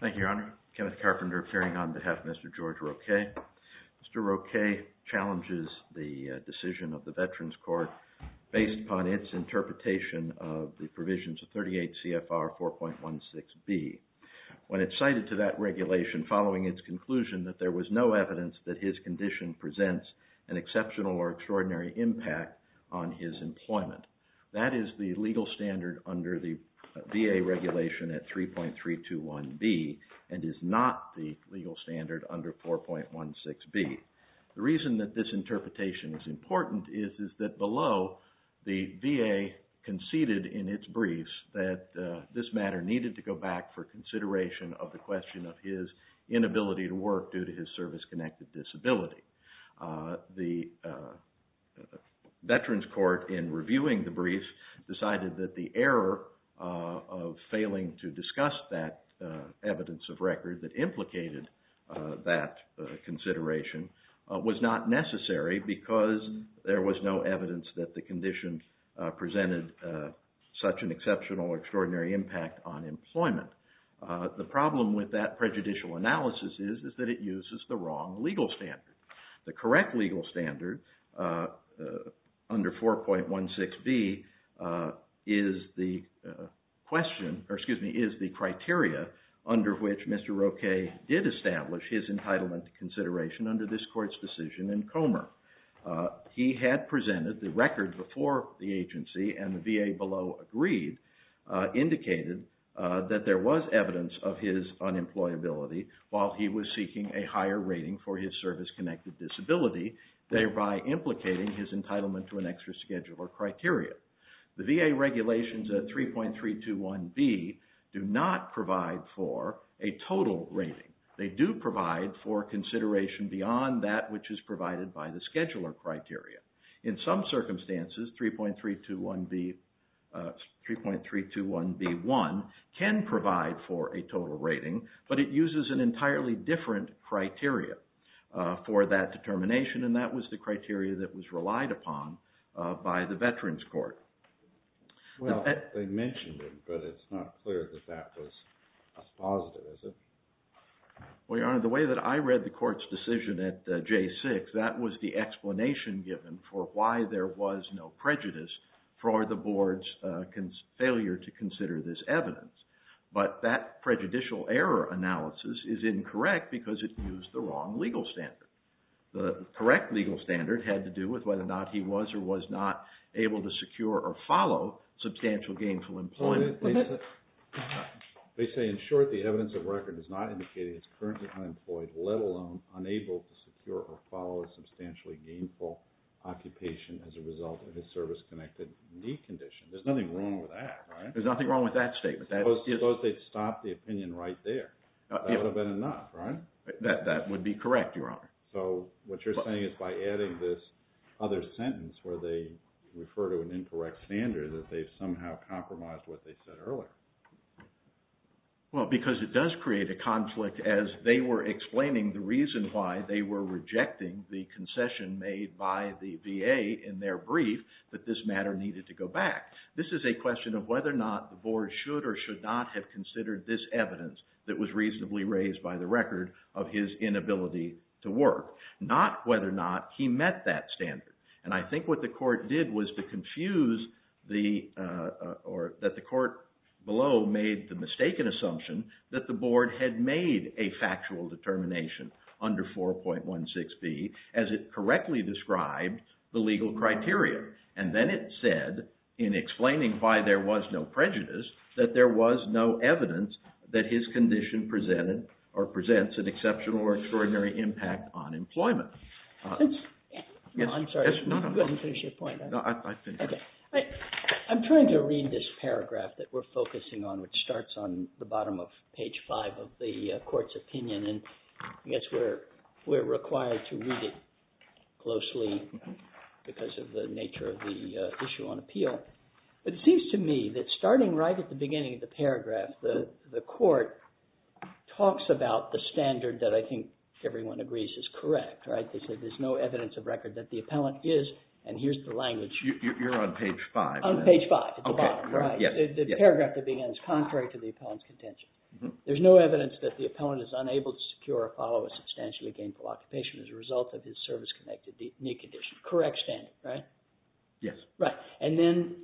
Thank you, Your Honor. Kenneth Carpenter appearing on behalf of Mr. George Roque. Mr. Roque challenges the decision of the Veterans Court based upon its interpretation of the provisions of 38 C.F.R. 4.16B. When it's cited to that regulation, following its conclusion that there was no evidence that his condition presents an exceptional or extraordinary impact on his employment, that is the legal standard under the VA regulation at 3.321B and is not the legal standard under 4.16B. The reason that this interpretation is important is that below, the VA conceded in its briefs that this matter needed to go back for consideration of the question of his inability to work due to his service-connected disability. The Veterans Court, in reviewing the briefs, decided that the error of failing to discuss that evidence of record that implicated that consideration was not necessary because there was no evidence that the condition presented such an exceptional or extraordinary impact on employment. The problem with that prejudicial analysis is that it uses the wrong legal standard. The correct legal standard under 4.16B is the criteria under which Mr. Roque did establish his entitlement to consideration under this Court's decision in Comer. He had presented the record before the agency and the VA below agreed, indicated that there was evidence of his unemployability while he was seeking a higher rating for his service-connected disability, thereby implicating his entitlement to an extra schedule or criteria. The VA regulations at 3.321B do not provide for a total rating. They do provide for consideration beyond that which is provided by the scheduler criteria. In some circumstances, 3.321B1 can provide for a total rating, but it uses an entirely different criteria for that determination and that was the criteria that was relied upon by the Veterans Court. Well, they mentioned it, but it's not clear that that was positive, is it? Well, Your Honor, the way that I read the Court's decision at J6, that was the explanation given for why there was no prejudice for the Board's failure to consider this evidence. But that prejudicial error analysis is incorrect because it used the wrong legal standard. The correct legal standard had to do with whether or not he was or was not able to secure or follow substantial gainful employment. They say, in short, the evidence of record does not indicate he is currently unemployed, let alone unable to secure or follow a substantially gainful occupation as a result of his service-connected need condition. There's nothing wrong with that, right? There's nothing wrong with that statement. Suppose they'd stopped the opinion right there. That would have been enough, right? That would be correct, Your Honor. So what you're saying is by adding this other sentence where they refer to an incorrect standard that they've somehow compromised what they said earlier. Well, because it does create a conflict as they were explaining the reason why they were rejecting the concession made by the VA in their brief that this matter needed to go back. This is a question of whether or not the Board should or should not have considered this evidence that was reasonably raised by the record of his inability to work, not whether or not he met that standard. And I think what the Court did was to confuse the – or that the Court below made the mistaken assumption that the Board had made a factual determination under 4.16b as it correctly described the legal criteria. And then it said in explaining why there was no prejudice that there was no evidence that his condition presented or presents an exceptional or extraordinary impact on employment. I'm sorry. Go ahead and finish your point. I'm trying to read this paragraph that we're focusing on, which starts on the bottom of page five of the Court's opinion. And I guess we're required to read it closely because of the nature of the issue on appeal. It seems to me that starting right at the beginning of the paragraph, the Court talks about the standard that I think everyone agrees is correct, right? They say there's no evidence of record that the appellant is – and here's the language. You're on page five. On page five at the bottom, right? The paragraph that begins, contrary to the appellant's contention. There's no evidence that the appellant is unable to secure or follow a substantially gainful occupation as a result of his service-connected knee condition. Correct standard, right? Yes. Right. And then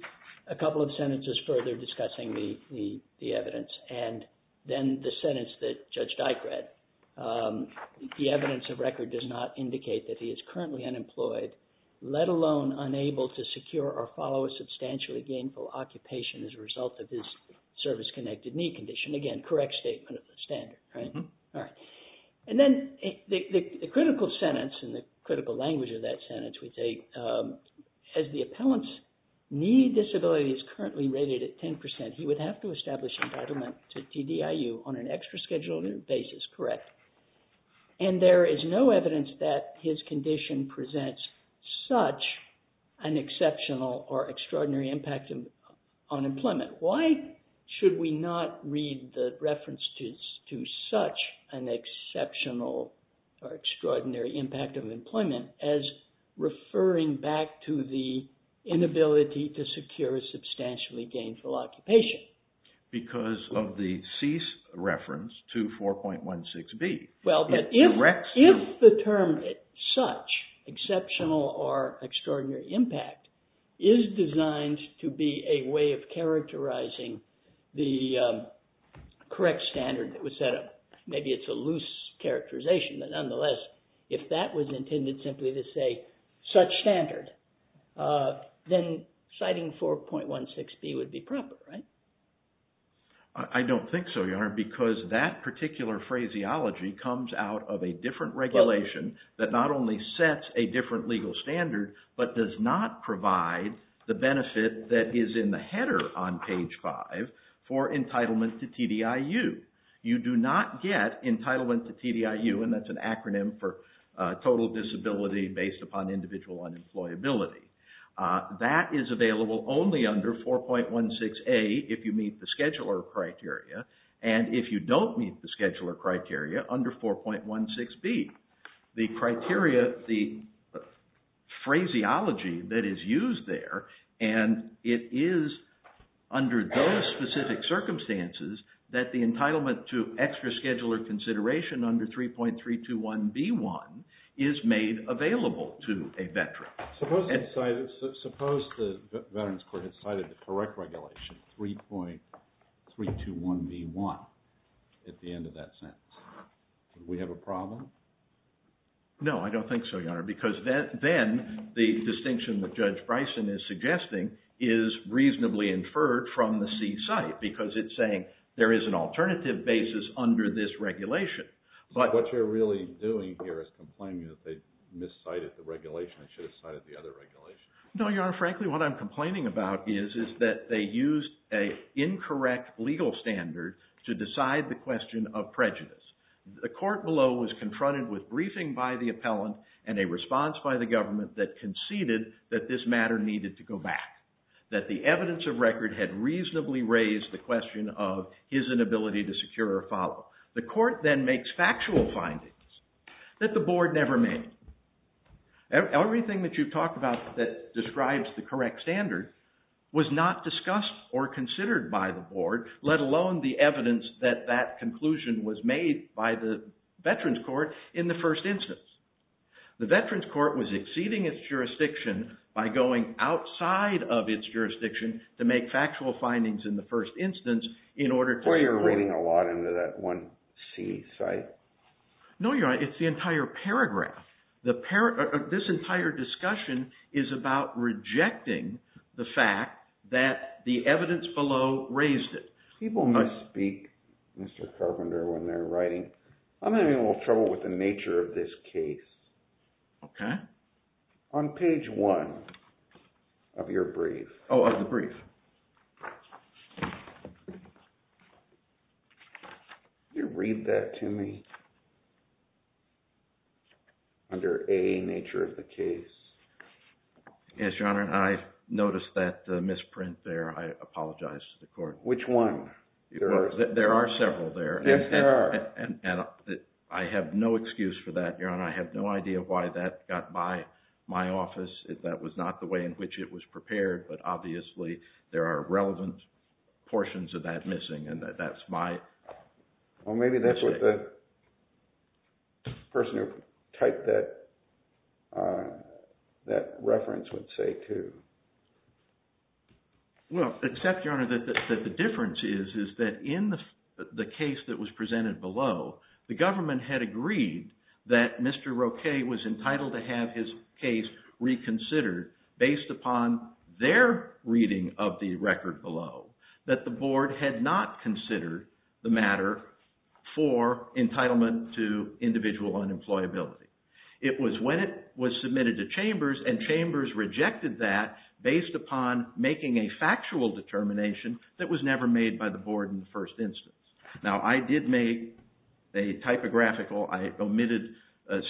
a couple of sentences further discussing the evidence. And then the sentence that Judge Dike read. The evidence of record does not indicate that he is currently unemployed, let alone unable to secure or follow a substantially gainful occupation as a result of his service-connected knee condition. Again, correct statement of the standard, right? All right. And then the critical sentence and the critical language of that sentence would say, as the appellant's knee disability is currently rated at 10 percent, he would have to establish entitlement to TDIU on an extra-scheduled basis. Correct. And there is no evidence that his condition presents such an exceptional or extraordinary impact on employment. Why should we not read the reference to such an exceptional or extraordinary impact on employment as referring back to the inability to secure a substantially gainful occupation? Because of the cease reference to 4.16B. Well, but if the term such exceptional or extraordinary impact is designed to be a way of characterizing the correct standard that was set up, maybe it's a loose characterization, but nonetheless, if that was intended simply to say such standard, then citing 4.16B would be proper, right? I don't think so, Your Honor, because that particular phraseology comes out of a different regulation that not only sets a different legal standard, but does not provide the benefit that is in the header on page 5 for entitlement to TDIU. You do not get entitlement to TDIU, and that's an acronym for total disability based upon individual unemployability. That is available only under 4.16A if you meet the scheduler criteria, and if you don't meet the scheduler criteria under 4.16B. The criteria, the phraseology that is used there, and it is under those specific circumstances that the entitlement to extra-scheduler consideration under 3.321B1 is made available to a veteran. Suppose the veterans court had cited the correct regulation, 3.321B1, at the end of that sentence. Would we have a problem? No, I don't think so, Your Honor, because then the distinction that Judge Bryson is suggesting is reasonably inferred from the C site, because it's saying there is an alternative basis under this regulation. What you're really doing here is complaining that they miscited the regulation. They should have cited the other regulation. No, Your Honor. Frankly, what I'm complaining about is that they used an incorrect legal standard to decide the question of prejudice. The court below was confronted with briefing by the appellant and a response by the government that conceded that this matter needed to go back, that the evidence of record had reasonably raised the question of his inability to secure a follow. The court then makes factual findings that the board never made. Everything that you've talked about that describes the correct standard was not discussed or considered by the board, let alone the evidence that that conclusion was made by the veterans court in the first instance. The veterans court was exceeding its jurisdiction by going outside of its jurisdiction to make factual findings in the first instance in order to… I'm getting a lot into that one C site. No, Your Honor. It's the entire paragraph. This entire discussion is about rejecting the fact that the evidence below raised it. People must speak, Mr. Carpenter, when they're writing. I'm having a little trouble with the nature of this case. Okay. On page one of your brief. Oh, of the brief. Read that to me. Under A, nature of the case. Yes, Your Honor. I noticed that misprint there. I apologize to the court. Which one? There are several there. Yes, there are. I have no excuse for that, Your Honor. I have no idea why that got by my office. That was not the way in which it was prepared, but obviously there are relevant portions of that missing, and that's my… Well, maybe that's what the person who typed that reference would say, too. Well, except, Your Honor, that the difference is that in the case that was presented below, the government had agreed that Mr. Roquet was entitled to have his case reconsidered based upon their reading of the record below. That the board had not considered the matter for entitlement to individual unemployability. It was when it was submitted to chambers, and chambers rejected that based upon making a factual determination that was never made by the board in the first instance. Now, I did make a typographical, I omitted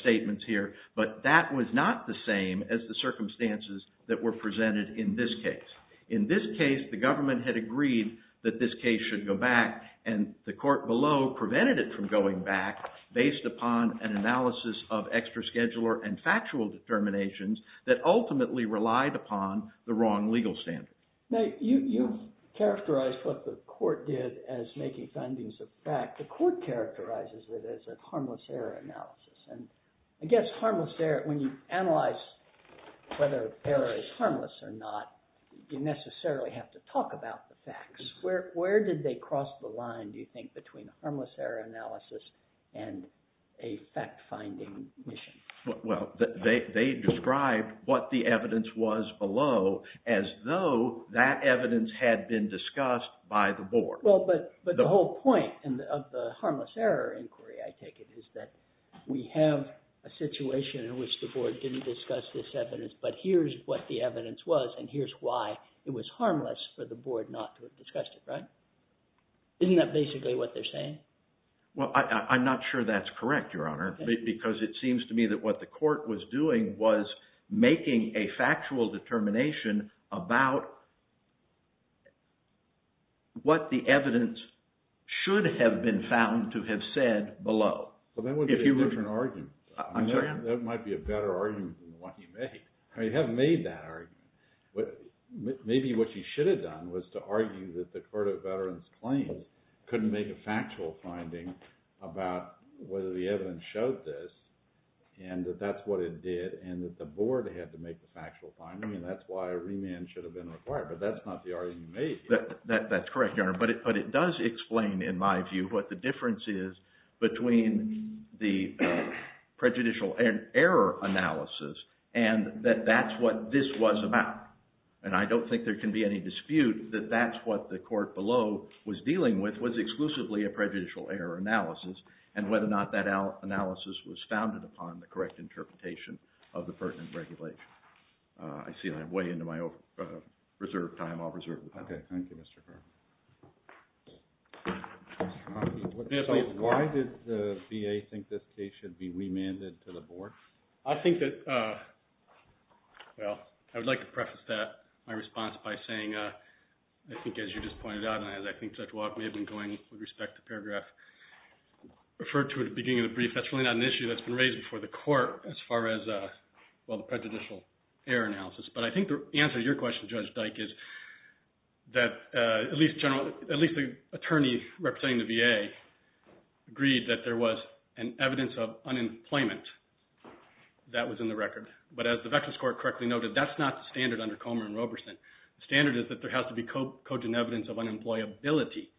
statements here, but that was not the same as the circumstances that were presented in this case. In this case, the government had agreed that this case should go back, and the court below prevented it from going back based upon an analysis of extra scheduler and factual determinations that ultimately relied upon the wrong legal standards. Now, you've characterized what the court did as making findings of fact. The court characterizes it as a harmless error analysis. And I guess harmless error, when you analyze whether error is harmless or not, you necessarily have to talk about the facts. Where did they cross the line, do you think, between a harmless error analysis and a fact-finding mission? Well, they described what the evidence was below as though that evidence had been discussed by the board. Well, but the whole point of the harmless error inquiry, I take it, is that we have a situation in which the board didn't discuss this evidence, but here's what the evidence was, and here's why it was harmless for the board not to have discussed it, right? Isn't that basically what they're saying? Well, I'm not sure that's correct, Your Honor, because it seems to me that what the court was doing was making a factual determination about what the evidence should have been found to have said below. Well, that would be a different argument. That might be a better argument than what you made. You haven't made that argument. Maybe what you should have done was to argue that the Court of Veterans Claims couldn't make a factual finding about whether the evidence showed this, and that that's what it did, and that the board had to make the factual finding, and that's why a remand should have been required. But that's not the argument you made. That's correct, Your Honor, but it does explain, in my view, what the difference is between the prejudicial error analysis and that that's what this was about. And I don't think there can be any dispute that that's what the court below was dealing with was exclusively a prejudicial error analysis, and whether or not that analysis was founded upon the correct interpretation of the pertinent regulation. I see I'm way into my reserve time. I'll reserve the time. Okay. Thank you, Mr. Carpenter. Why did the VA think this case should be remanded to the board? I think that, well, I would like to preface that, my response by saying, I think as you just pointed out, and I think Judge Walk may have been going with respect to paragraph referred to at the beginning of the brief, that's really not an issue that's been raised before the court as far as, well, the prejudicial error analysis. But I think the answer to your question, Judge Dyke, is that at least the attorney representing the VA agreed that there was an evidence of unemployment that was in the record. But as the Veterans Court correctly noted, that's not the standard under Comer and Roberson. The standard is that there has to be cogent evidence of unemployability.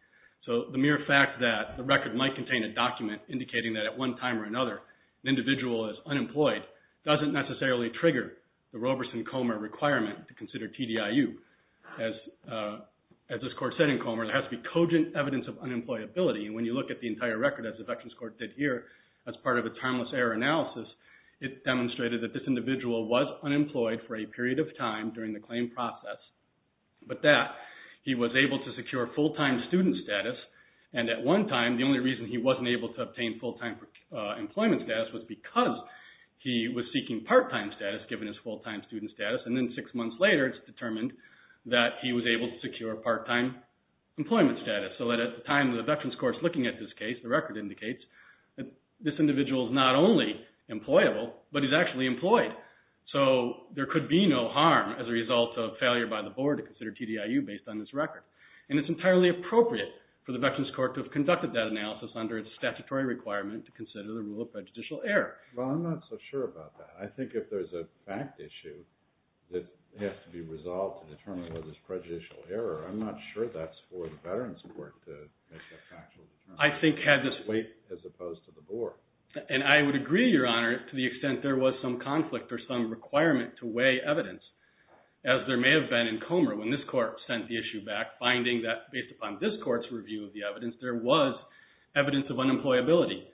So the mere fact that the record might contain a document indicating that at one time or another an individual is unemployed doesn't necessarily trigger the Roberson-Comer requirement to consider TDIU. As this court said in Comer, there has to be cogent evidence of unemployability. And when you look at the entire record, as the Veterans Court did here, as part of its harmless error analysis, it demonstrated that this individual was unemployed for a period of time during the claim process. But that he was able to secure full-time student status. And at one time, the only reason he wasn't able to obtain full-time employment status was because he was seeking part-time status given his full-time student status. And then six months later, it's determined that he was able to secure part-time employment status. So that at the time that the Veterans Court is looking at this case, the record indicates that this individual is not only employable, but he's actually employed. So there could be no harm as a result of failure by the board to consider TDIU based on this record. And it's entirely appropriate for the Veterans Court to have conducted that analysis under its statutory requirement to consider the rule of prejudicial error. Well, I'm not so sure about that. I think if there's a fact issue that has to be resolved to determine whether it's prejudicial error, I'm not sure that's for the Veterans Court to make that factual determination. I think had this weight as opposed to the board. And I would agree, Your Honor, to the extent there was some conflict or some requirement to weigh evidence, as there may have been in Comer when this court sent the issue back, finding that based upon this court's review of the evidence, there was evidence of unemployability,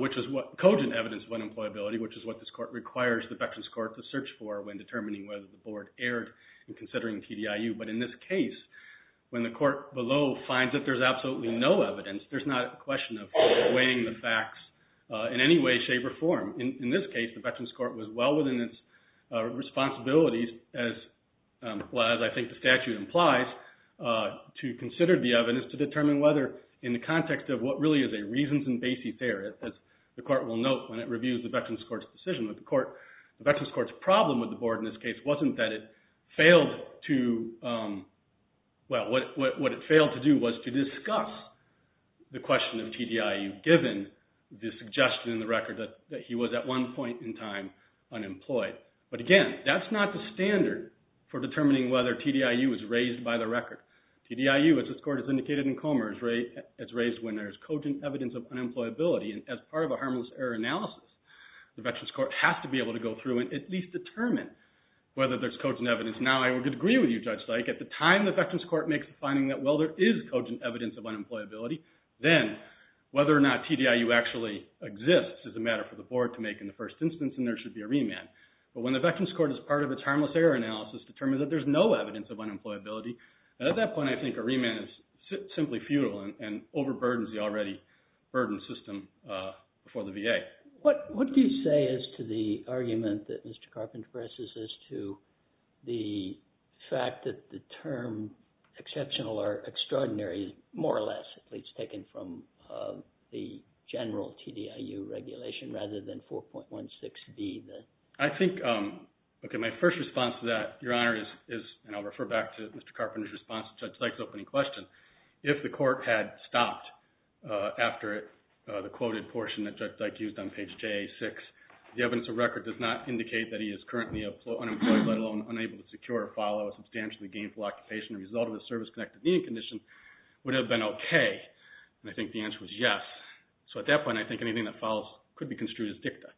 which is what – cogent evidence of unemployability, which is what this court requires the Veterans Court to search for when determining whether the board erred in considering TDIU. But in this case, when the court below finds that there's absolutely no evidence, there's not a question of weighing the facts in any way, shape, or form. In this case, the Veterans Court was well within its responsibilities, as I think the statute implies, to consider the evidence to determine whether, in the context of what really is a reasons and basis error, as the court will note when it reviews the Veterans Court's decision. The Veterans Court's problem with the board in this case wasn't that it failed to – well, what it failed to do was to discuss the question of TDIU, given the suggestion in the record that he was at one point in time unemployed. But again, that's not the standard for determining whether TDIU is raised by the record. TDIU, as this court has indicated in Comer, is raised when there's cogent evidence of unemployability. And as part of a harmless error analysis, the Veterans Court has to be able to go through and at least determine whether there's cogent evidence. Now, I would agree with you, Judge Stike. At the time the Veterans Court makes the finding that, well, there is cogent evidence of unemployability, then whether or not TDIU actually exists is a matter for the board to make in the first instance, and there should be a remand. But when the Veterans Court, as part of its harmless error analysis, determines that there's no evidence of unemployability, at that point I think a remand is simply futile and overburdens the already burdened system for the VA. What do you say as to the argument that Mr. Carpenter presses as to the fact that the term exceptional or extraordinary is more or less at least taken from the general TDIU regulation rather than 4.16B? I think, okay, my first response to that, Your Honor, is, and I'll refer back to Mr. Carpenter's response to Judge Stike's opening question, if the court had stopped after the quoted portion that Judge Stike used on page JA6, the evidence of record does not indicate that he is currently unemployed, let alone unable to secure or follow a substantially gainful occupation as a result of the service-connected meeting condition, would it have been okay? And I think the answer was yes. So at that point I think anything that follows could be construed as dicta.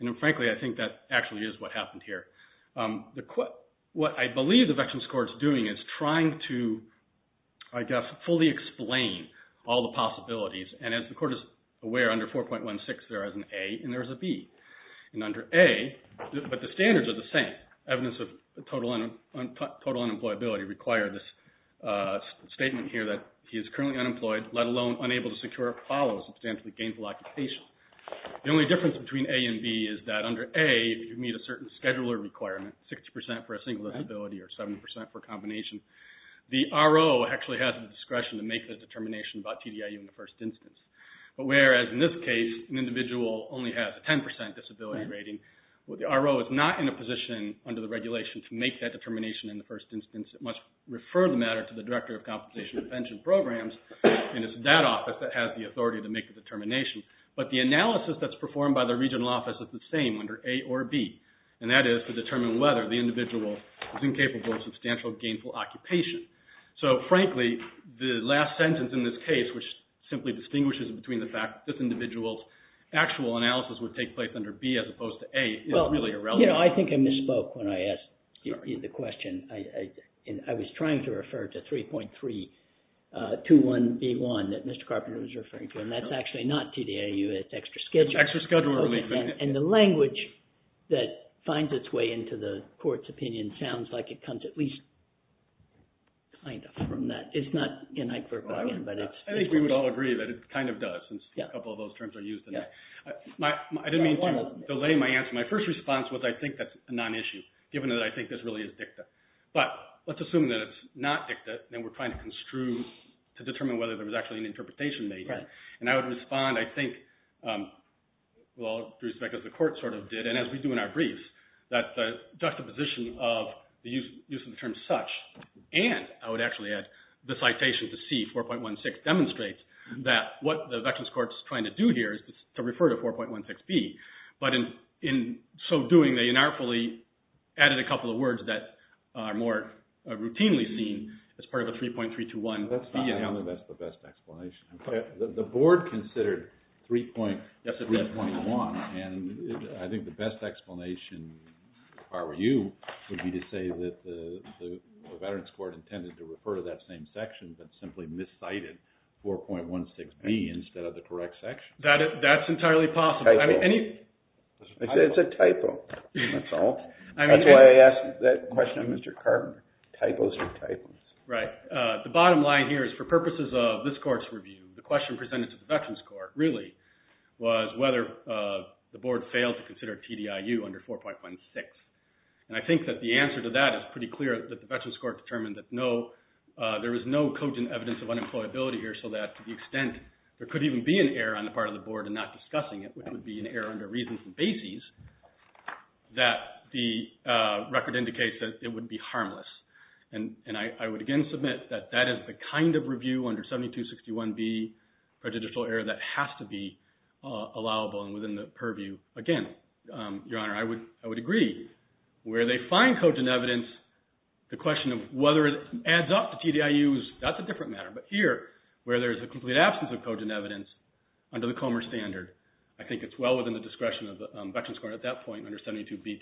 And frankly, I think that actually is what happened here. What I believe the Veterans Court is doing is trying to, I guess, fully explain all the possibilities. And as the Court is aware, under 4.16 there is an A and there is a B. And under A, but the standards are the same. Evidence of total unemployability requires a statement here that he is currently unemployed, let alone unable to secure or follow a substantially gainful occupation. The only difference between A and B is that under A, if you meet a certain scheduler requirement, 60% for a single disability or 7% for a combination, the RO actually has the discretion to make the determination about TDIU in the first instance. But whereas in this case an individual only has a 10% disability rating, the RO is not in a position under the regulation to make that determination in the first instance. It must refer the matter to the Director of Compensation and Pension Programs and it's that office that has the authority to make the determination. But the analysis that's performed by the regional office is the same under A or B, and that is to determine whether the individual is incapable of substantial gainful occupation. So, frankly, the last sentence in this case, which simply distinguishes between the fact that this individual's actual analysis would take place under B as opposed to A, is really irrelevant. Well, you know, I think I misspoke when I asked you the question. I was trying to refer to 3.321B1 that Mr. Carpenter was referring to, and that's actually not TDIU. It's extra-schedule relief. Extra-schedule relief. And the language that finds its way into the court's opinion sounds like it comes at least kind of from that. It's not in that group again, but it's... I think we would all agree that it kind of does since a couple of those terms are used in there. I didn't mean to delay my answer. My first response was I think that's a non-issue, given that I think this really is dicta. But let's assume that it's not dicta and we're trying to construe to determine whether there was actually an interpretation made here. And I would respond, I think, with all due respect, as the court sort of did, and as we do in our briefs, that the juxtaposition of the use of the term such and I would actually add the citation to C, 4.16, demonstrates that what the veterans court is trying to do here is to refer to 4.16B. But in so doing, they inartfully added a couple of words that are more routinely seen as part of the 3.321B. That's not the best explanation. The board considered 3.321, and I think the best explanation, if I were you, would be to say that the veterans court intended to refer to that same section, but simply miscited 4.16B instead of the correct section. That's entirely possible. It's a typo, that's all. That's why I asked that question of Mr. Cartman. Typos are typos. Right. The bottom line here is for purposes of this court's review, the question presented to the veterans court really was whether the board failed to consider TDIU under 4.16. And I think that the answer to that is pretty clear that the veterans court determined that no, there is no cogent evidence of unemployability here so that to the extent there could even be an error on the part of the board in not discussing it, which would be an error under reasons and bases, that the record indicates that it would be harmless. And I would again submit that that is the kind of review under 7261B, prejudicial error that has to be allowable and within the purview. Again, Your Honor, I would agree. Where they find cogent evidence, the question of whether it adds up to TDIU, that's a different matter. But here, where there is a complete absence of cogent evidence under the Comer standard, I think it's well within the discretion of the veterans court at that point under 7261B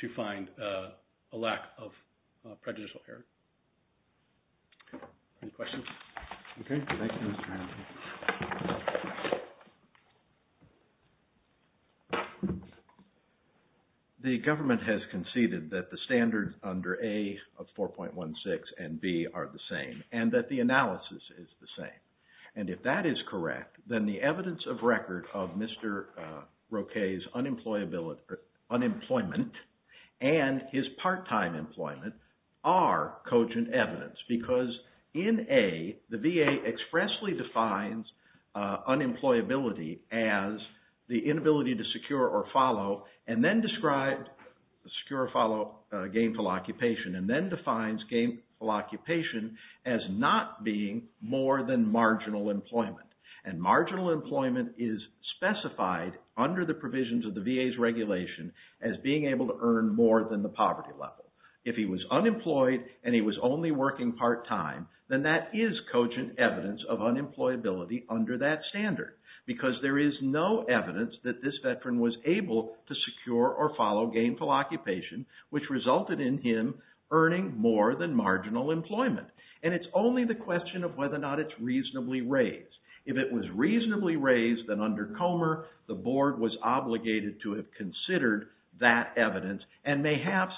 to find a lack of prejudicial error. Any questions? Okay. Thank you, Mr. Hamilton. The government has conceded that the standards under A of 4.16 and B are the same and that the analysis is the same. And if that is correct, then the evidence of record of Mr. Roquet's unemployment and his part-time employment are cogent evidence because in A, the VA expressly defines unemployability as the inability to secure or follow and then describes secure or follow gainful occupation and then defines gainful occupation as not being more than marginal employment. And marginal employment is specified under the provisions of the VA's regulation as being able to earn more than the poverty level. If he was unemployed and he was only working part-time, then that is cogent evidence of unemployability under that standard because there is no evidence that this veteran was able to secure or follow gainful occupation, which resulted in him earning more than marginal employment. And it's only the question of whether or not it's reasonably raised. If it was reasonably raised, then under Comer, the board was obligated to have considered that evidence and may have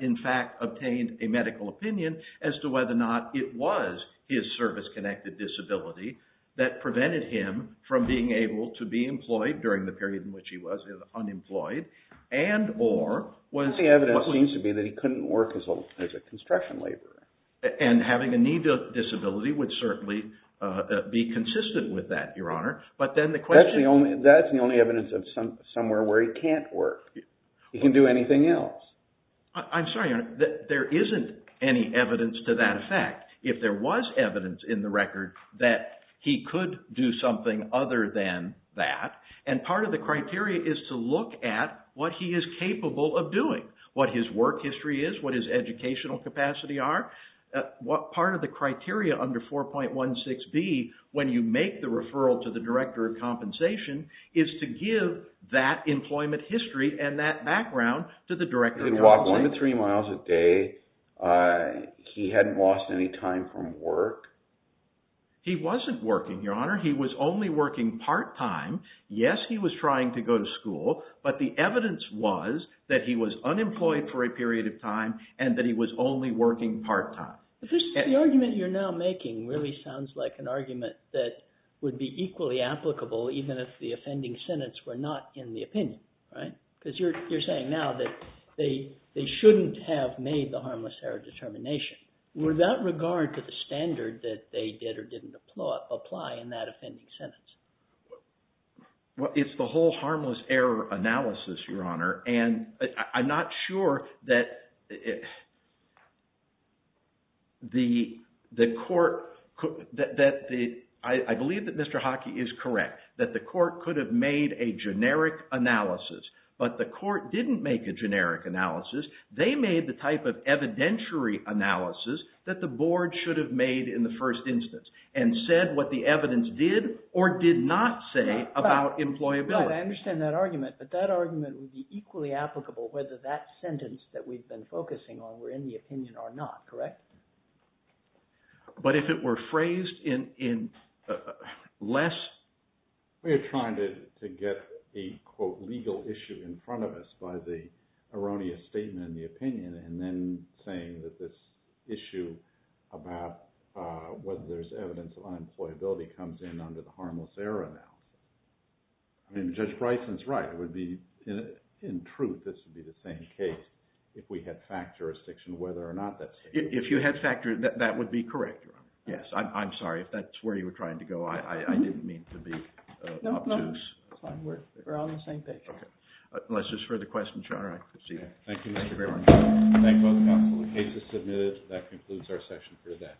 in fact obtained a medical opinion as to whether or not it was his service-connected disability that prevented him from being able to be employed during the period in which he was unemployed and or was... The evidence seems to be that he couldn't work as a construction laborer. And having a need for disability would certainly be consistent with that, Your Honor. But then the question... That's the only evidence of somewhere where he can't work. He can do anything else. I'm sorry, Your Honor. There isn't any evidence to that effect. If there was evidence in the record that he could do something other than that, and part of the criteria is to look at what he is capable of doing, what his work history is, what his educational capacity are. Part of the criteria under 4.16b, when you make the referral to the Director of Compensation, is to give that employment history and that background to the Director of Compensation. He could walk one to three miles a day. He hadn't lost any time from work. He wasn't working, Your Honor. He was only working part-time. Yes, he was trying to go to school, but the evidence was that he was unemployed for a period of time and that he was only working part-time. The argument you're now making really sounds like an argument that would be equally applicable even if the offending sentence were not in the opinion, right? Because you're saying now that they shouldn't have made the harmless error determination. Would that regard to the standard that they did or didn't apply in that offending sentence? Well, it's the whole harmless error analysis, Your Honor, and I'm not sure that the court—I believe that Mr. Hockey is correct, that the court could have made a generic analysis, but the court didn't make a generic analysis. They made the type of evidentiary analysis that the board should have made in the first instance and said what the evidence did or did not say about employability. Well, I understand that argument, but that argument would be equally applicable whether that sentence that we've been focusing on were in the opinion or not, correct? But if it were phrased in less— We are trying to get a, quote, legal issue in front of us by the erroneous statement in the opinion and then saying that this issue about whether there's evidence of unemployability comes in under the harmless error now. I mean, Judge Bryson's right. It would be—in truth, this would be the same case if we had fact jurisdiction whether or not that— If you had fact—that would be correct, Your Honor. Yes, I'm sorry. If that's where you were trying to go, I didn't mean to be obtuse. No, no. We're on the same page. Unless there's further questions, Your Honor, I concede. Thank you, Mr. Graber. Thank both counsel. The case is submitted. That concludes our session for today.